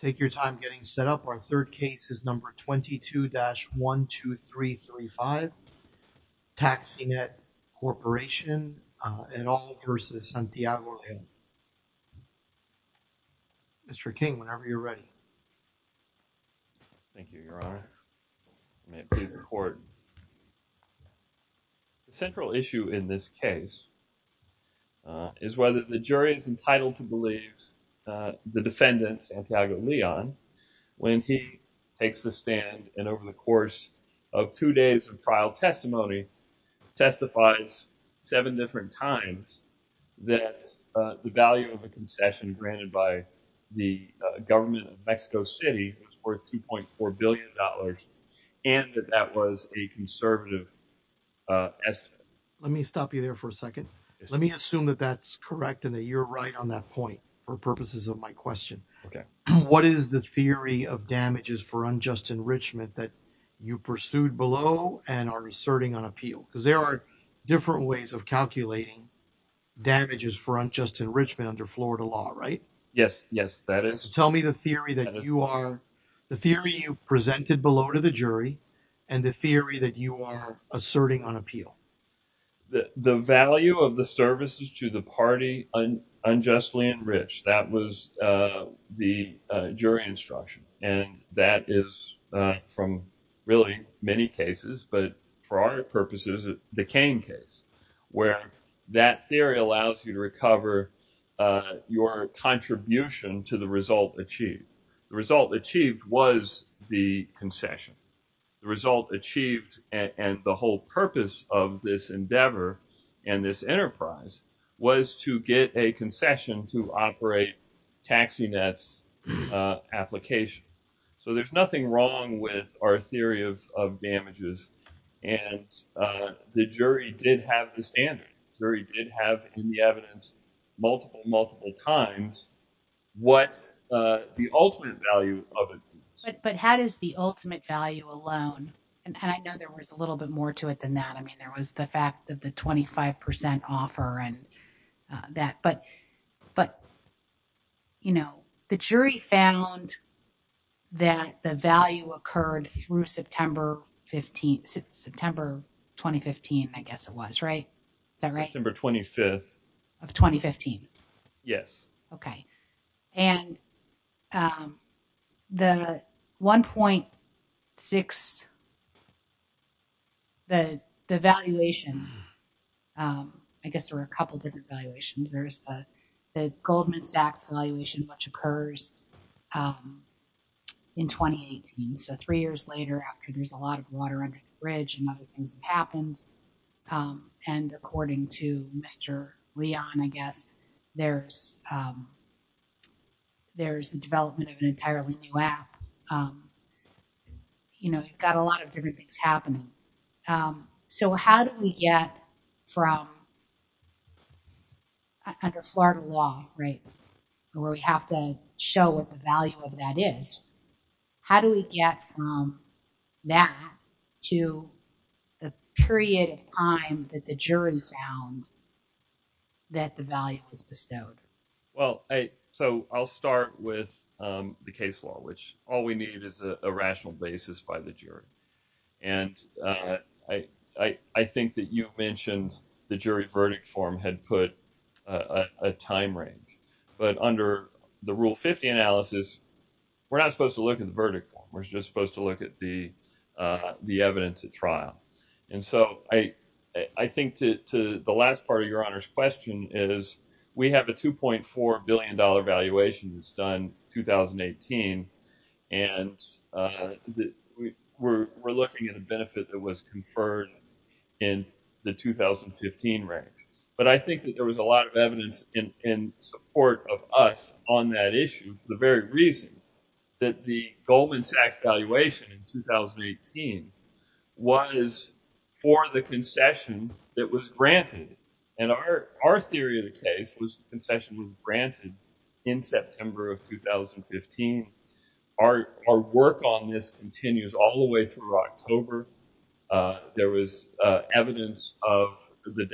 Take your time getting set up. Our third case is number 22-12335, TaxiNet Corporation et The central issue in this case is whether the jury is entitled to believe the defendant, Santiago Leon, when he takes the stand and over the course of two days of trial testimony testifies seven different times that the value of a concession granted by the government of Mexico City was worth 2.4 billion dollars and that that was a conservative estimate. Let me stop you there for a second. Let me assume that that's correct and that you're right on that point for purposes of my question. Okay. What is the theory of damages for unjust enrichment that you pursued below and are asserting on appeal? Because there are different ways of calculating damages for unjust enrichment under Florida law, right? Yes, yes that is. Tell me the theory that you are, the theory you presented below to the jury and the theory that you are asserting on appeal. The value of the services to the party unjustly enriched, that was the jury instruction and that is from really many cases but for our purposes it's the Kane case where that theory allows you to recover your contribution to the result achieved. The result achieved and the whole purpose of this endeavor and this enterprise was to get a concession to operate taxi nets application. So there's nothing wrong with our theory of of damages and the jury did have the standard. The jury did have in the evidence multiple multiple times what the ultimate value of it is. But how does the ultimate value alone and I know there was a little bit more to it than that. I mean there was the fact that the 25 percent offer and that but but you know the jury found that the value occurred through September 15, September 2015. I guess it was right? Is that right? September 25th of 2015. Yes. Okay and the 1.6 the the valuation I guess there were a couple different valuations. There's the the Goldman Sachs valuation which occurs in 2018. So three years later after there's a lot of water bridge and other things happened and according to Mr. Leon I guess there's there's the development of an entirely new app. You know you've got a lot of different things happening. So how do we get from under Florida law right where we have to show what the value of that is. How do we get from that to the period of time that the jury found that the value was bestowed? Well I so I'll start with the case law which all we need is a rational basis by the jury. And I think that you mentioned the jury verdict form had put a time range. But under the rule 50 analysis we're not supposed to look at the verdict form. We're just supposed to look at the evidence at trial. And so I think to the last part of your honor's question is we have a 2.4 billion dollar valuation that's done 2018 and we're looking at a benefit that was conferred in the 2015 range. But I think that there was a on that issue the very reason that the Goldman Sachs valuation in 2018 was for the concession that was granted. And our our theory of the case was the concession was granted in September of 2015. Our work on this continues all the way through October. There was evidence of the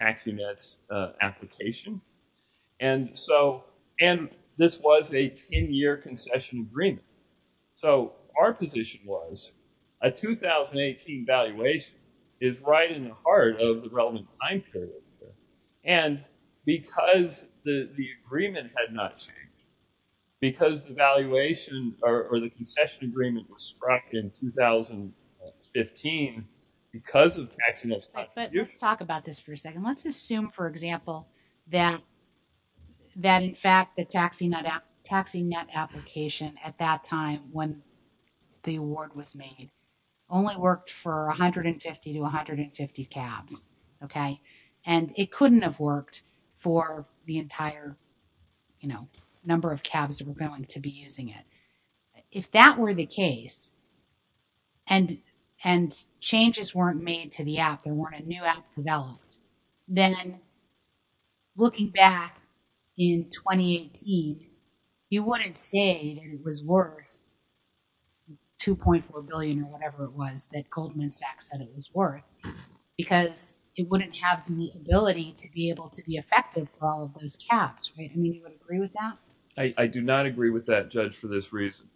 taxi nets application. And so and this was a 10-year concession agreement. So our position was a 2018 valuation is right in the heart of the relevant time period. And because the the agreement had not changed because the valuation or the concession agreement was struck in 2015 because of accidents. But let's talk about this for a second. Let's assume for example that that in fact the taxi net application at that time when the award was made only worked for 150 to 150 cabs. Okay and it couldn't have worked for the entire you know number of cabs were going to be using it. If that were the case and and changes weren't made to the app there weren't a new app developed. Then looking back in 2018 you wouldn't say that it was worth 2.4 billion or whatever it was that Goldman Sachs said it was worth. Because it wouldn't have the ability to be able to be effective for all of those cabs right. I mean you would agree with that? I do not agree with that judge for this reason.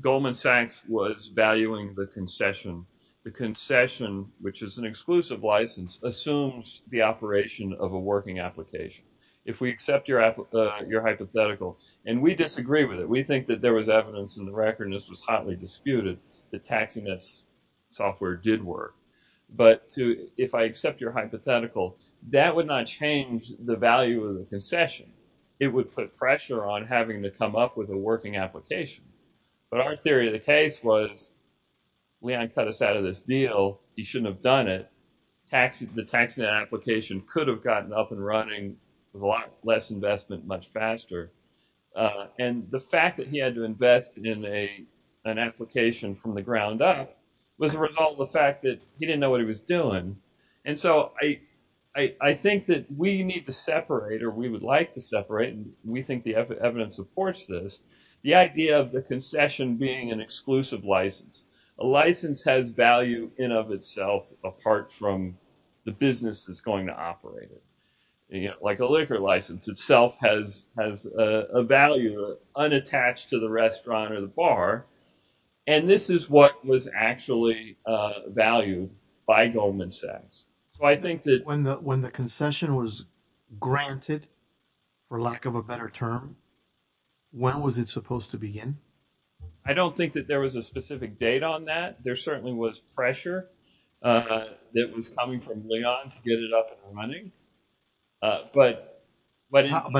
Goldman Sachs was valuing the concession. The concession which is an exclusive license assumes the operation of a working application. If we accept your hypothetical and we disagree with it. We think that there was evidence in the record and this was hotly disputed that taxi nets software did work. But to if I accept your concession it would put pressure on having to come up with a working application. But our theory of the case was Leon cut us out of this deal. He shouldn't have done it. Taxi the tax net application could have gotten up and running with a lot less investment much faster. And the fact that he had to invest in a an application from the ground up was a result of the fact that he didn't know what he was doing. And so I think that we need to separate or we would like to separate and we think the evidence supports this. The idea of the concession being an exclusive license. A license has value in of itself apart from the business that's going to operate it. Like a liquor license itself has a value unattached to the restaurant or the bar. And this is what was actually valued by Goldman Sachs. So I think that when the concession was granted for lack of a better term when was it supposed to begin? I don't think that there was a specific date on that. There certainly was pressure that was coming from Leon to get it up and running. But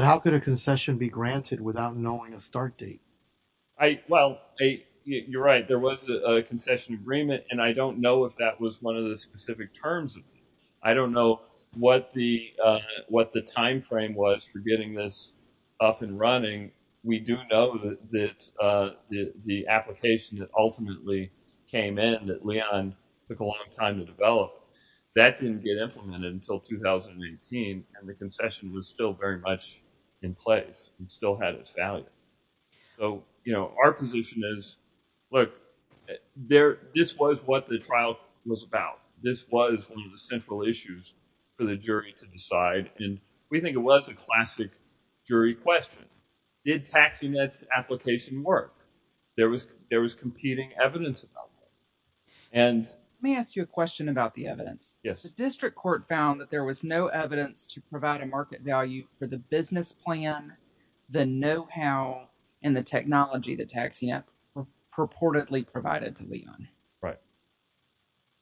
how could a concession be granted without knowing a start date? Well you're right there was a concession agreement and I don't know if that was one of the specific terms of it. I don't know what the time frame was for getting this up and running. We do know that the application that ultimately came in that Leon took a long to develop that didn't get implemented until 2018 and the concession was still very much in place and still had its value. So you know our position is look there this was what the trial was about. This was one of the central issues for the jury to decide and we think it was a classic jury question. Did Taxi Net's application work? There was there was competing evidence about it. Let me ask you a question about the evidence. The district court found that there was no evidence to provide a market value for the business plan, the know-how, and the technology that Taxi Net purportedly provided to Leon. Right.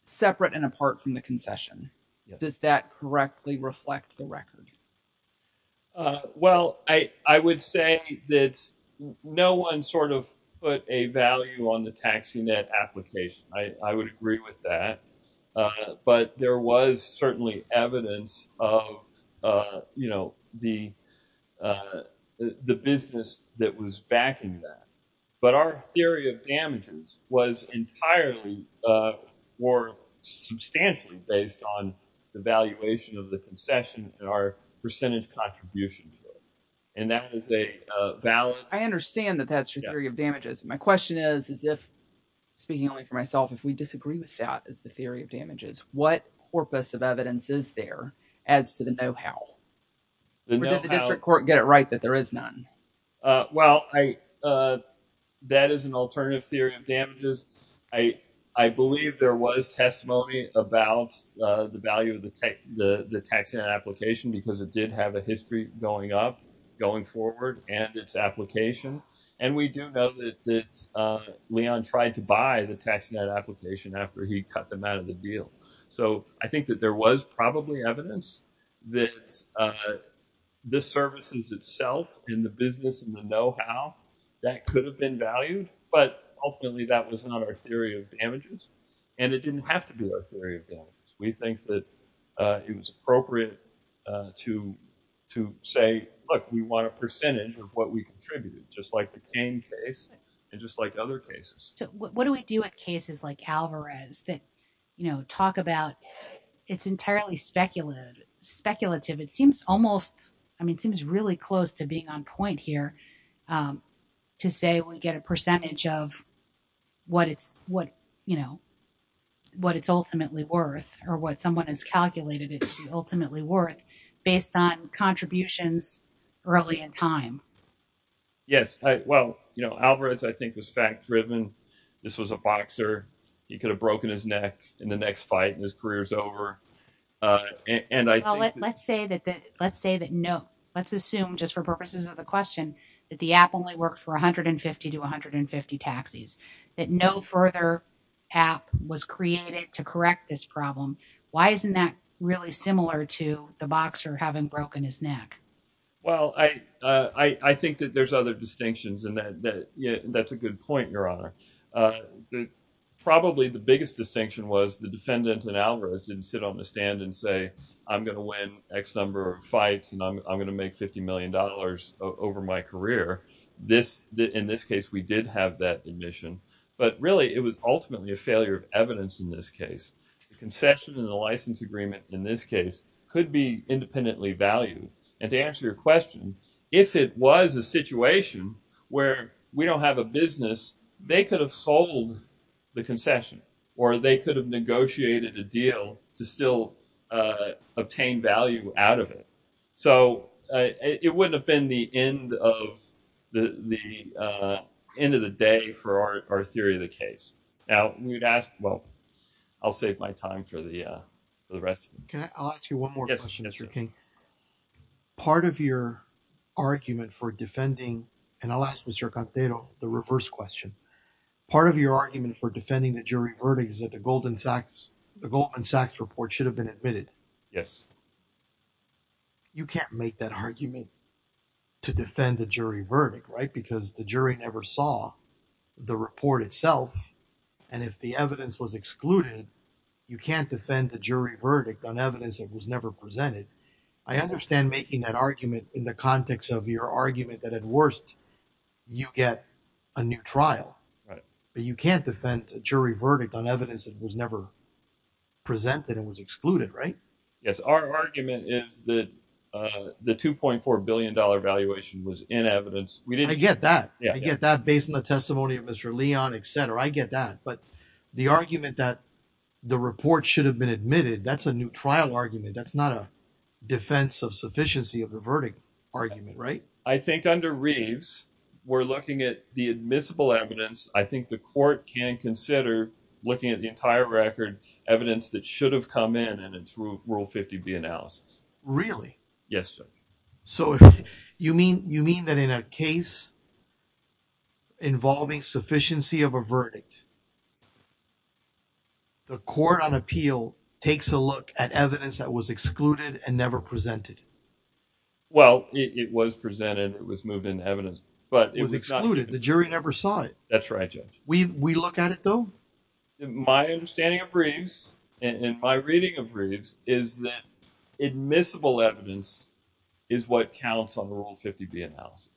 Separate and apart from the concession. Does that correctly reflect the record? Well I would say that no one sort of put a value on Taxi Net application. I would agree with that. But there was certainly evidence of you know the business that was backing that. But our theory of damages was entirely or substantially based on the valuation of the concession and our percentage contribution. And that is a valid. I understand that that's your theory of damages. My question is is if speaking only for myself if we disagree with that as the theory of damages what corpus of evidence is there as to the know-how? Did the district court get it right that there is none? Well I that is an alternative theory of damages. I believe there was testimony about the value of the Taxi Net application because it did have a value. And we do know that Leon tried to buy the Taxi Net application after he cut them out of the deal. So I think that there was probably evidence that the services itself in the business and the know-how that could have been valued. But ultimately that was not our theory of damages. And it didn't have to be our theory of damages. We think that it was appropriate to say look we want a percentage of what we contribute just like the Kane case and just like other cases. So what do we do at cases like Alvarez that you know talk about it's entirely speculative. Speculative it seems almost I mean it seems really close to being on point here to say we get a percentage of what it's what you know what it's ultimately worth or what someone has calculated it to be ultimately worth based on contributions early in time. Yes well you know Alvarez I think was fact-driven. This was a boxer. He could have broken his neck in the next fight and his career's over. And I think let's say that let's say that no let's assume just for purposes of the question that the app only worked for 150 to 150 taxis. That no further app was created to correct this problem. Why isn't that really similar to the boxer having broken his neck? Well I think that there's other distinctions and that yeah that's a good point your honor. Probably the biggest distinction was the defendant in Alvarez didn't sit on the stand and say I'm going to win x number of fights and I'm going to make 50 million dollars over my career. In this case we did have that admission but really it was ultimately a failure of evidence in this case. The concession and the license agreement in this case could be independently valued and to answer your question if it was a situation where we don't have a business they could have sold the concession or they could have negotiated a deal to still obtain value out of it. So it wouldn't have been the end of the end of the day for our theory of the case. Now we'd ask well I'll save my time for the rest. Okay I'll ask you one more question Mr. King. Part of your argument for defending and I'll ask Mr. Contero the reverse question. Part of your argument for defending the jury verdict is that the Goldman Sachs report should have been admitted. Yes. You can't make that argument to defend the jury verdict right because the jury never saw the report itself and if the evidence was excluded you can't defend the jury verdict on evidence that was never presented. I understand making that argument in the context of your argument that at worst you get a new trial but you can't defend a jury verdict on evidence that was never presented and was excluded right. Yes our argument is that the 2.4 billion dollar valuation was in evidence. I get that. I get that based on the testimony of Mr. Leon etc. I get that but the argument that the report should have been admitted that's a new trial argument that's not a defense of sufficiency of the verdict argument right. I think under Reeves we're looking at the admissible evidence I think the court can consider looking at the entire record evidence that should have come in and it's rule 50b analysis. Really? Yes sir. So you mean that in a case involving sufficiency of a verdict the court on appeal takes a look at evidence that was excluded and never presented? Well it was presented it was moved into evidence but it was excluded the jury never saw it. That's right Judge. We look at it though? My understanding of Reeves and my reading of Reeves is that admissible evidence is what counts on the rule 50b analysis.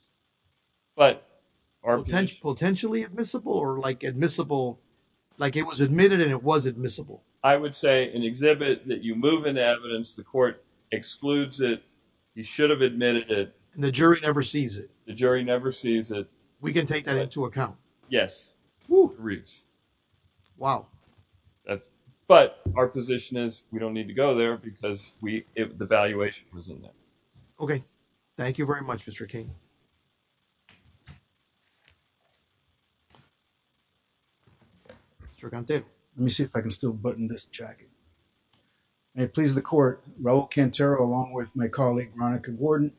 Potentially admissible or like admissible like it was admitted and it was admissible? I would say an exhibit that you should have admitted it. The jury never sees it? The jury never sees it. We can take that into account? Yes. Woo Reeves. Wow. But our position is we don't need to go there because the valuation was in there. Okay thank you very much Mr. King. Mr. Conte let me see if I can still button this jacket. May it please the court Raul Cantero along with my colleague Veronica Gordon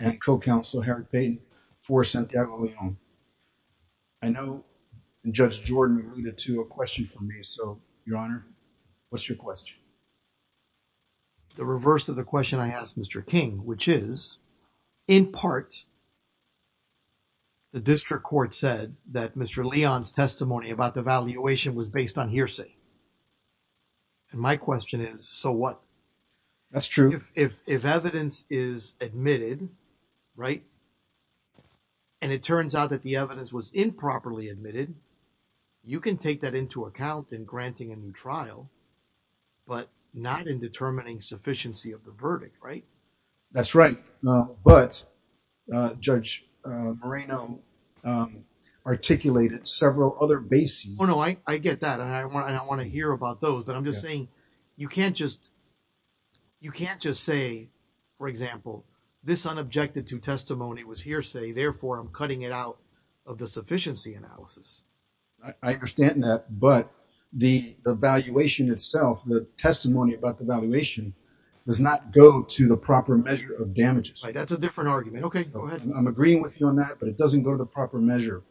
and co-counsel Herod Payton for Santiago Leon. I know Judge Jordan alluded to a question for me so your honor what's your question? The reverse of the question I asked Mr. King which is in part the district court said that Mr. Leon's testimony about the valuation was based on hearsay. And my question is so what? That's true. If evidence is admitted right and it turns out that the evidence was improperly admitted you can take that into account in granting a new trial but not in determining sufficiency of the verdict right? That's right but Judge Moreno um articulated several other bases. Oh no I get that and I want to hear about those but I'm just saying you can't just you can't just say for example this unobjected to testimony was hearsay therefore I'm cutting it out of the sufficiency analysis. I understand that but the evaluation itself the testimony about the valuation does not go to the proper measure of damages. That's a proper measure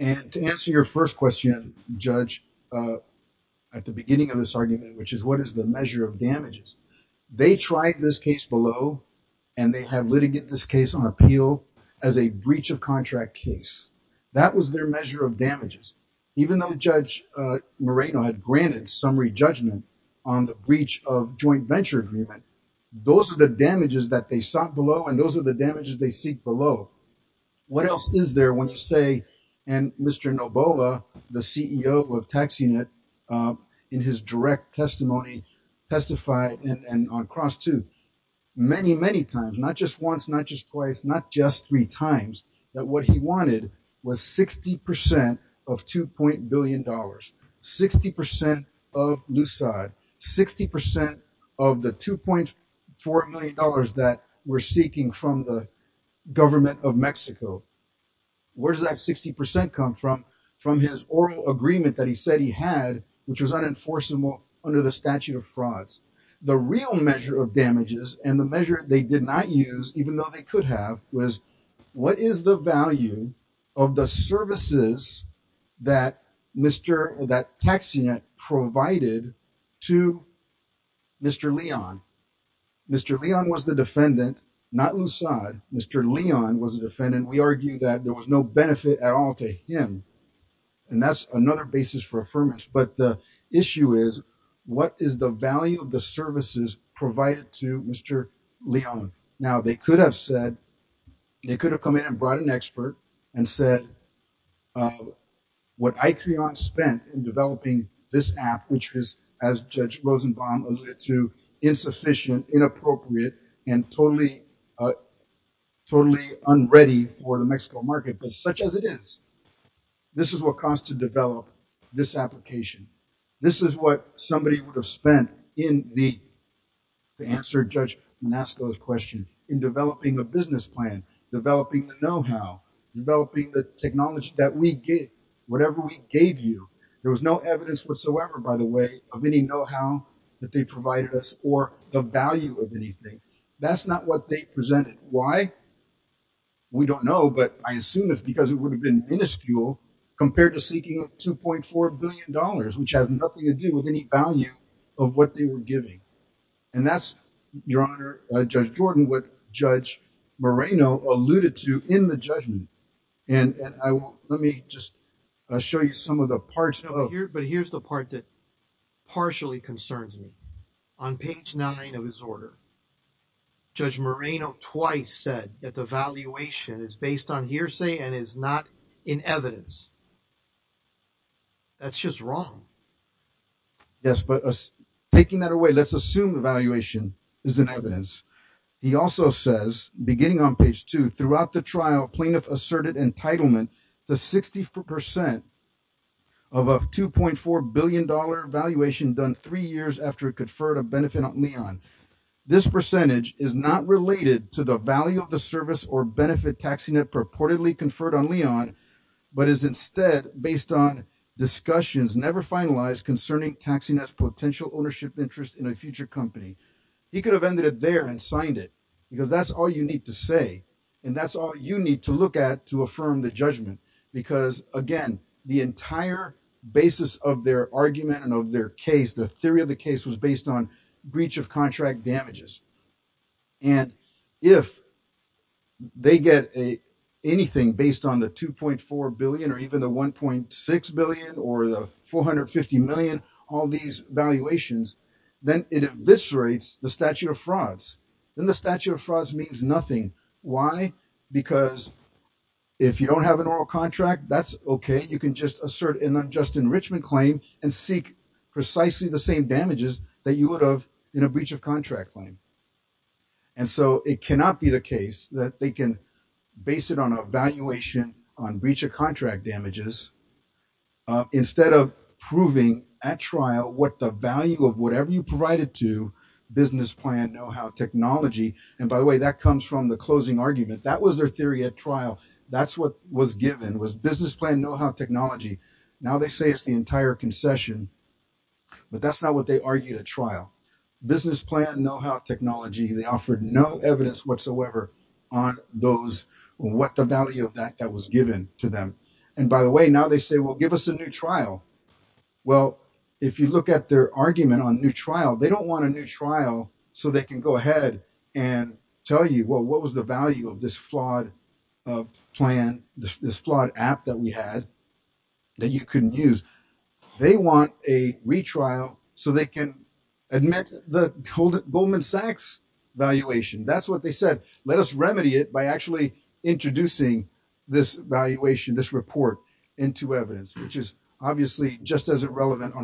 and to answer your first question Judge at the beginning of this argument which is what is the measure of damages? They tried this case below and they have litigated this case on appeal as a breach of contract case. That was their measure of damages even though Judge Moreno had granted summary judgment on the breach of joint venture agreement. Those are the damages that they sought below and those are the damages they seek below. What else is there when you say and Mr. Nobola the CEO of tax unit in his direct testimony testified and and on cross two many many times not just once not just twice not just three times that what he wanted was 60 percent of 2. billion dollars 60 percent of lucide 60 percent of the 2.4 million dollars that we're seeking from the government of Mexico. Where does that 60 percent come from from his oral agreement that he said he had which was unenforceable under the statute of frauds. The real measure of damages and the measure they did not use even though they could have was what is the value of the services that Mr. that tax unit provided to Mr. Leon. Mr. Leon was the defendant not lucide. Mr. Leon was the defendant. We argue that there was no benefit at all to him and that's another basis for affirmance but the issue is what is the value of the services provided to Mr. Leon. Now they could have said they could have come in and brought an expert and said what Icreon spent in developing this app which is as Judge Rosenbaum alluded to insufficient inappropriate and totally totally unready for the Mexico market but such as it is this is what caused to develop this application. This is what somebody would have spent in the to answer Judge Nasco's question in developing a business plan, developing the know-how, developing the technology that we get whatever we gave you. There was no evidence whatsoever by the way of any know-how that they provided us or the value of anything. That's not what they presented. Why? We don't know but I assume it's because it would have been minuscule compared to seeking a 2.4 billion dollars which has nothing to do with any value of what they were giving and that's your honor Judge Jordan what Judge Moreno alluded to in the judgment and and I will let me just show you some of the parts of here but here's the part that partially concerns me on page nine of his order Judge Moreno twice said that the valuation is based on hearsay and is not in evidence. That's just wrong. Yes but us taking that away let's assume the valuation is in evidence. He also says beginning on page two throughout the trial plaintiff asserted entitlement to 64 percent of a 2.4 billion dollar valuation done three years after it conferred a benefit on Leon. This percentage is not related to the value of the service or benefit taxing purportedly conferred on Leon but is instead based on discussions never finalized concerning taxing as potential ownership interest in a future company. He could have ended it there and signed it because that's all you need to say and that's all you need to look at to affirm the judgment because again the entire basis of their argument and of their case the theory of the case was based on breach of contract damages and if they get a anything based on the 2.4 billion or even the 1.6 billion or the 450 million all these valuations then it eviscerates the statute of frauds then the statute of frauds means nothing. Why? Because if you don't have an oral contract that's okay you can just assert an unjust enrichment claim and seek precisely the same damages that you would have in a breach of contract claim and so it cannot be the case that they can base it on a valuation on breach of contract damages instead of proving at trial what the value of whatever you provided to business plan know-how technology and by the way that comes from the closing argument that was their theory at trial that's what was given was business plan know-how technology now they say it's the entire concession but that's not what they argued at trial business plan know-how technology they offered no evidence whatsoever on those what the value of that that was given to them and by the way now they say well give us a new trial well if you look at their argument on new trial they don't want a new trial so they can go ahead and tell you well what was the value of this flawed plan this flawed app that we had that you couldn't use they want a retrial so they can admit the Goldman Sachs valuation that's what they said let us remedy it by actually introducing this valuation this report into evidence which is obviously just as irrelevant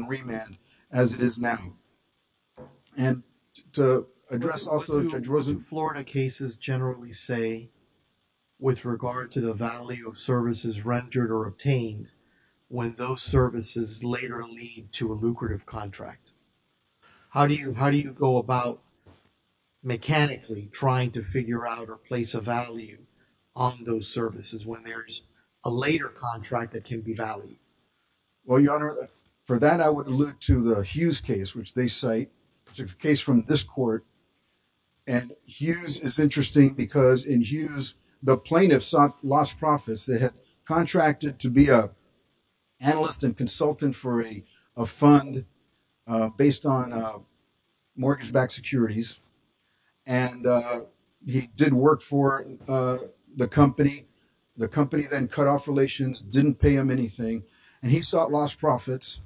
as it is now and to address also Florida cases generally say with regard to the value of services rendered or obtained when those services later lead to a lucrative contract how do you how do you go about mechanically trying to figure out or place a value on those services when there's a later contract that can be valued well your honor for that I would allude to the Hughes case which they cite which is a case from this court and Hughes is interesting because in Hughes the plaintiffs sought lost profits they had contracted to be a analyst and consultant for a a fund based on mortgage-backed securities and he did work for the company the company then cut off relations didn't pay him anything and he sought lost profits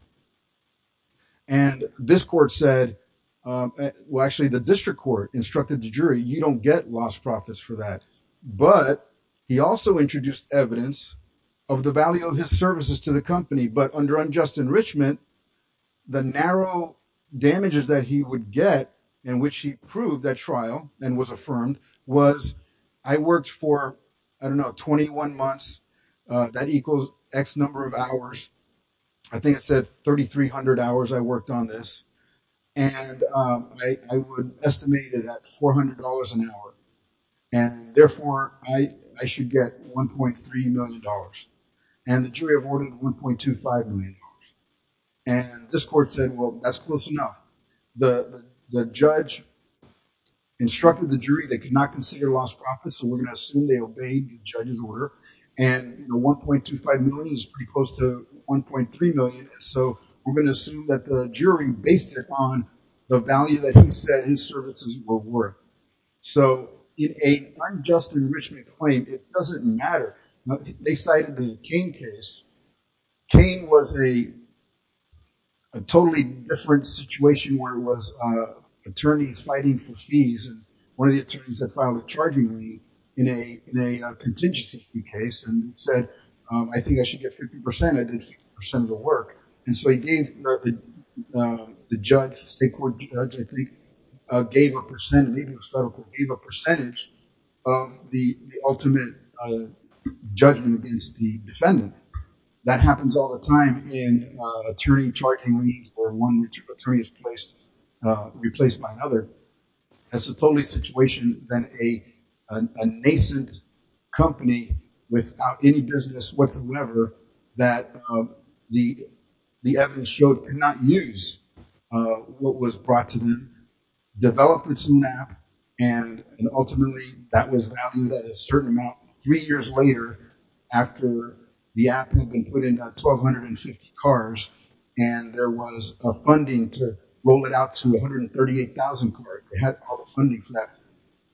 and this court said well actually the district court instructed the jury you don't get lost profits for that but he also introduced evidence of the value of his services to the company but under unjust enrichment the narrow damages that he would get in which he proved that trial and was affirmed was I worked for I don't know 21 months that equals x number of hours I think I said 3300 hours I worked on this and I would estimate it at 400 an hour and therefore I should get 1.3 million dollars and the jury awarded 1.25 million dollars and this court said well that's close enough the the judge instructed the jury they could not consider lost profits so we're going to assume they obeyed the judge's order and the 1.25 million is pretty close to 1.3 million so we're going to assume that the jury based it on the value that he said his services were worth so in a unjust enrichment claim it doesn't matter they cited the Cain case Cain was a a totally different situation where it was uh attorneys fighting for fees and one of the attorneys that filed a charging lead in a in a contingency fee case and said I think I should get 50 percent I did 50 percent of the work and so he gave the uh the judge state court judge I think uh gave a percent even the federal gave a percentage of the the ultimate uh judgment against the defendant that happens all the time in uh attorney charging leads or one which attorney is placed uh replaced by another that's a totally situation than a a nascent company without any business whatsoever that um the the evidence showed could not use uh what was brought to them developed its own app and and ultimately that was valued at a certain amount three years later after the app had been put in about 1,250 cars and there was a funding to roll it out to 138,000 cars they had all the funding for that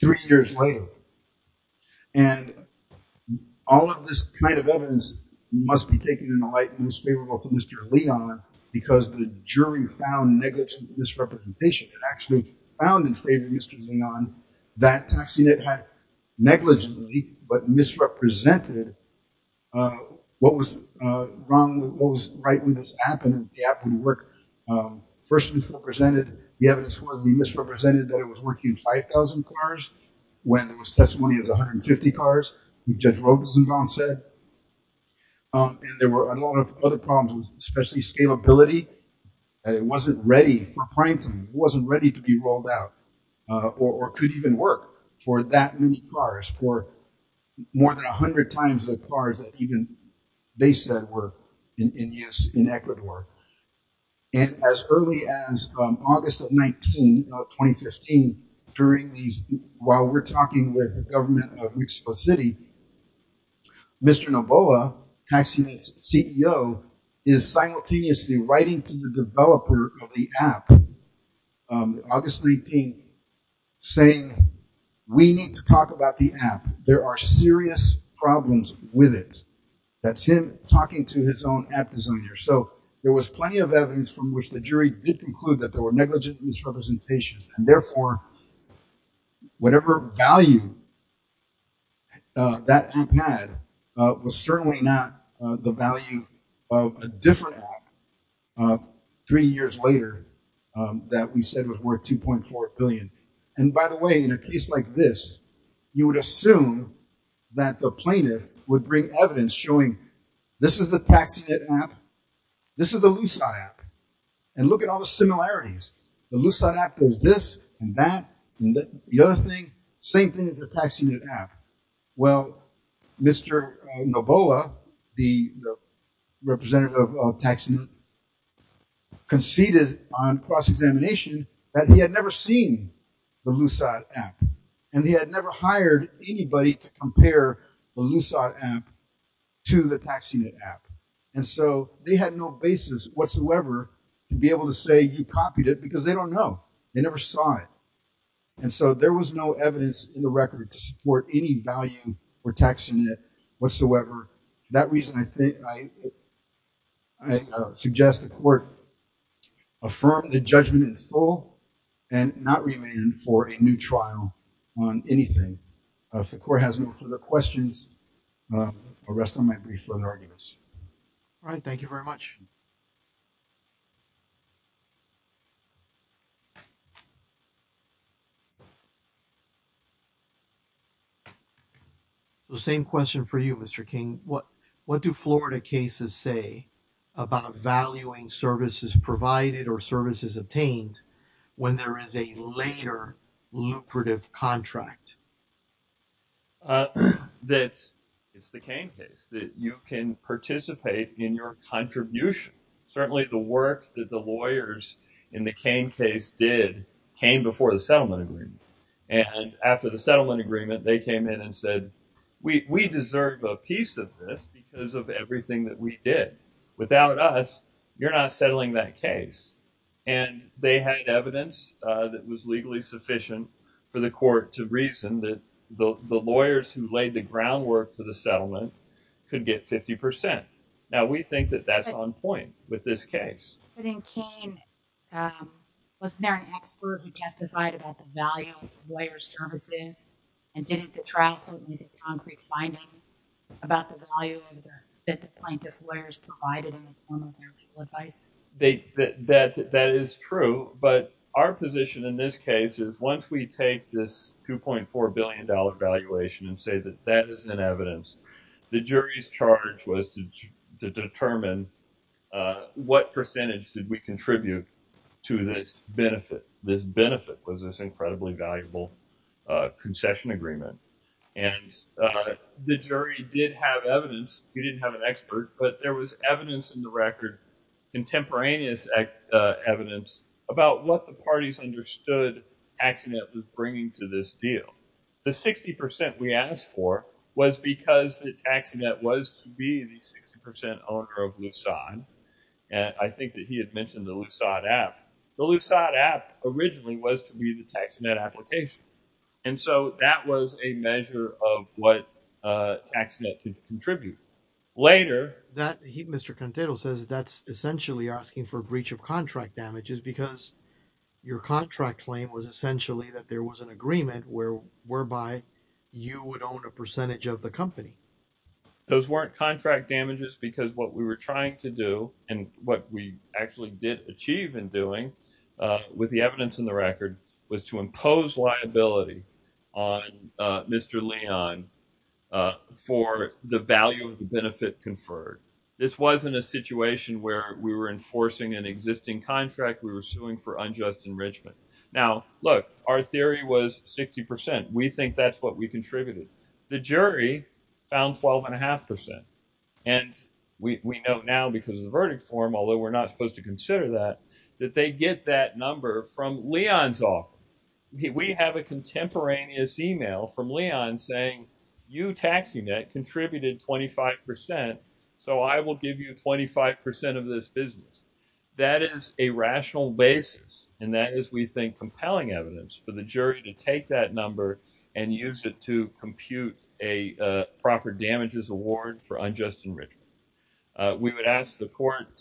three years later and all of this kind of evidence must be taken in the light most favorable to Mr. Leon because the jury found negligent misrepresentation it actually found in favor of Mr. Leon that taxi net had negligently but misrepresented uh what was uh wrong what was right when this happened and the app wouldn't work um the evidence was we misrepresented that it was working in 5,000 cars when there was testimony as 150 cars who judge robeson gone said um and there were a lot of other problems especially scalability that it wasn't ready for primetime wasn't ready to be rolled out uh or could even work for that many cars for more than 100 times the cars that even they said were in in yes in ecuador and as early as um august of 19 of 2015 during these while we're talking with the government of mexico city Mr. Noboa tax units ceo is simultaneously writing to the developer of the app um august 19 saying we need to talk about the app there are serious problems with it that's him talking to his own app designer so there was plenty of evidence from which the jury did conclude that there were negligent misrepresentations and therefore whatever value uh that app had uh was certainly not uh the value of a different app uh three years later um that we said was worth 2.4 billion and by the way in a case like this you would assume that the plaintiff would bring evidence showing this is the taxi net app this is the lucy app and look at all the similarities the lucy app is this and that and the other thing same thing as the taxi net app well Mr. Nobola the representative of taxing conceded on cross the lucy app and he had never hired anybody to compare the lucy app to the taxi net app and so they had no basis whatsoever to be able to say you copied it because they don't know they never saw it and so there was no evidence in the record to support any value for taxing it whatsoever that reason i think i i suggest the court affirm the judgment in full and not remand for a new trial on anything if the court has no further questions i'll rest on my brief further arguments all right thank you very much so same question for you Mr. King what what do Florida cases say about valuing services provided or services obtained when there is a later lucrative contract uh that's it's the cane case that you can participate in your contribution certainly the work that the lawyers in the cane case did came before the settlement agreement and after the settlement agreement they came in and said we we deserve a piece of this because of everything that we did without us you're not settling that case and they had evidence uh that was legally sufficient for the court to reason that the the lawyers who laid the groundwork for the settlement could get 50 now we think that that's on point with this case i think cane um wasn't there an expert who testified about the value of lawyer services and didn't the trial court need a concrete finding about the value of the that the plaintiff lawyers provided in the form of their advice they that that is true but our position in this case is once we take this 2.4 billion dollar valuation and say that that is in evidence the jury's charge was to determine uh what percentage did we contribute to this benefit this benefit was this incredibly valuable uh concession agreement and uh the jury did have evidence we didn't have an expert but there was evidence in the record contemporaneous evidence about what the parties understood tax net was bringing to this deal the 60 we asked for was because the tax net was to be the 60 owner of lucide and i think that he had mentioned the lucide app the lucide app originally was to be the tax net application and so that was a measure of what uh tax net could contribute later that he mr can title says that's essentially asking for breach of contract damages because your contract claim was essentially that there was an agreement where whereby you would own a percentage of the company those weren't contract damages because what we were trying to do and what we actually did achieve in doing uh with the evidence in the record was to benefit conferred this wasn't a situation where we were enforcing an existing contract we were suing for unjust enrichment now look our theory was 60 we think that's what we contributed the jury found 12 and a half percent and we we know now because of the verdict form although we're not supposed to consider that that they get that number from leon's off we have a contemporaneous email from leon saying you taxi net contributed 25 so i will give you 25 of this business that is a rational basis and that is we think compelling evidence for the jury to take that number and use it to compute a proper damages award for unjust enrichment we would ask the court to you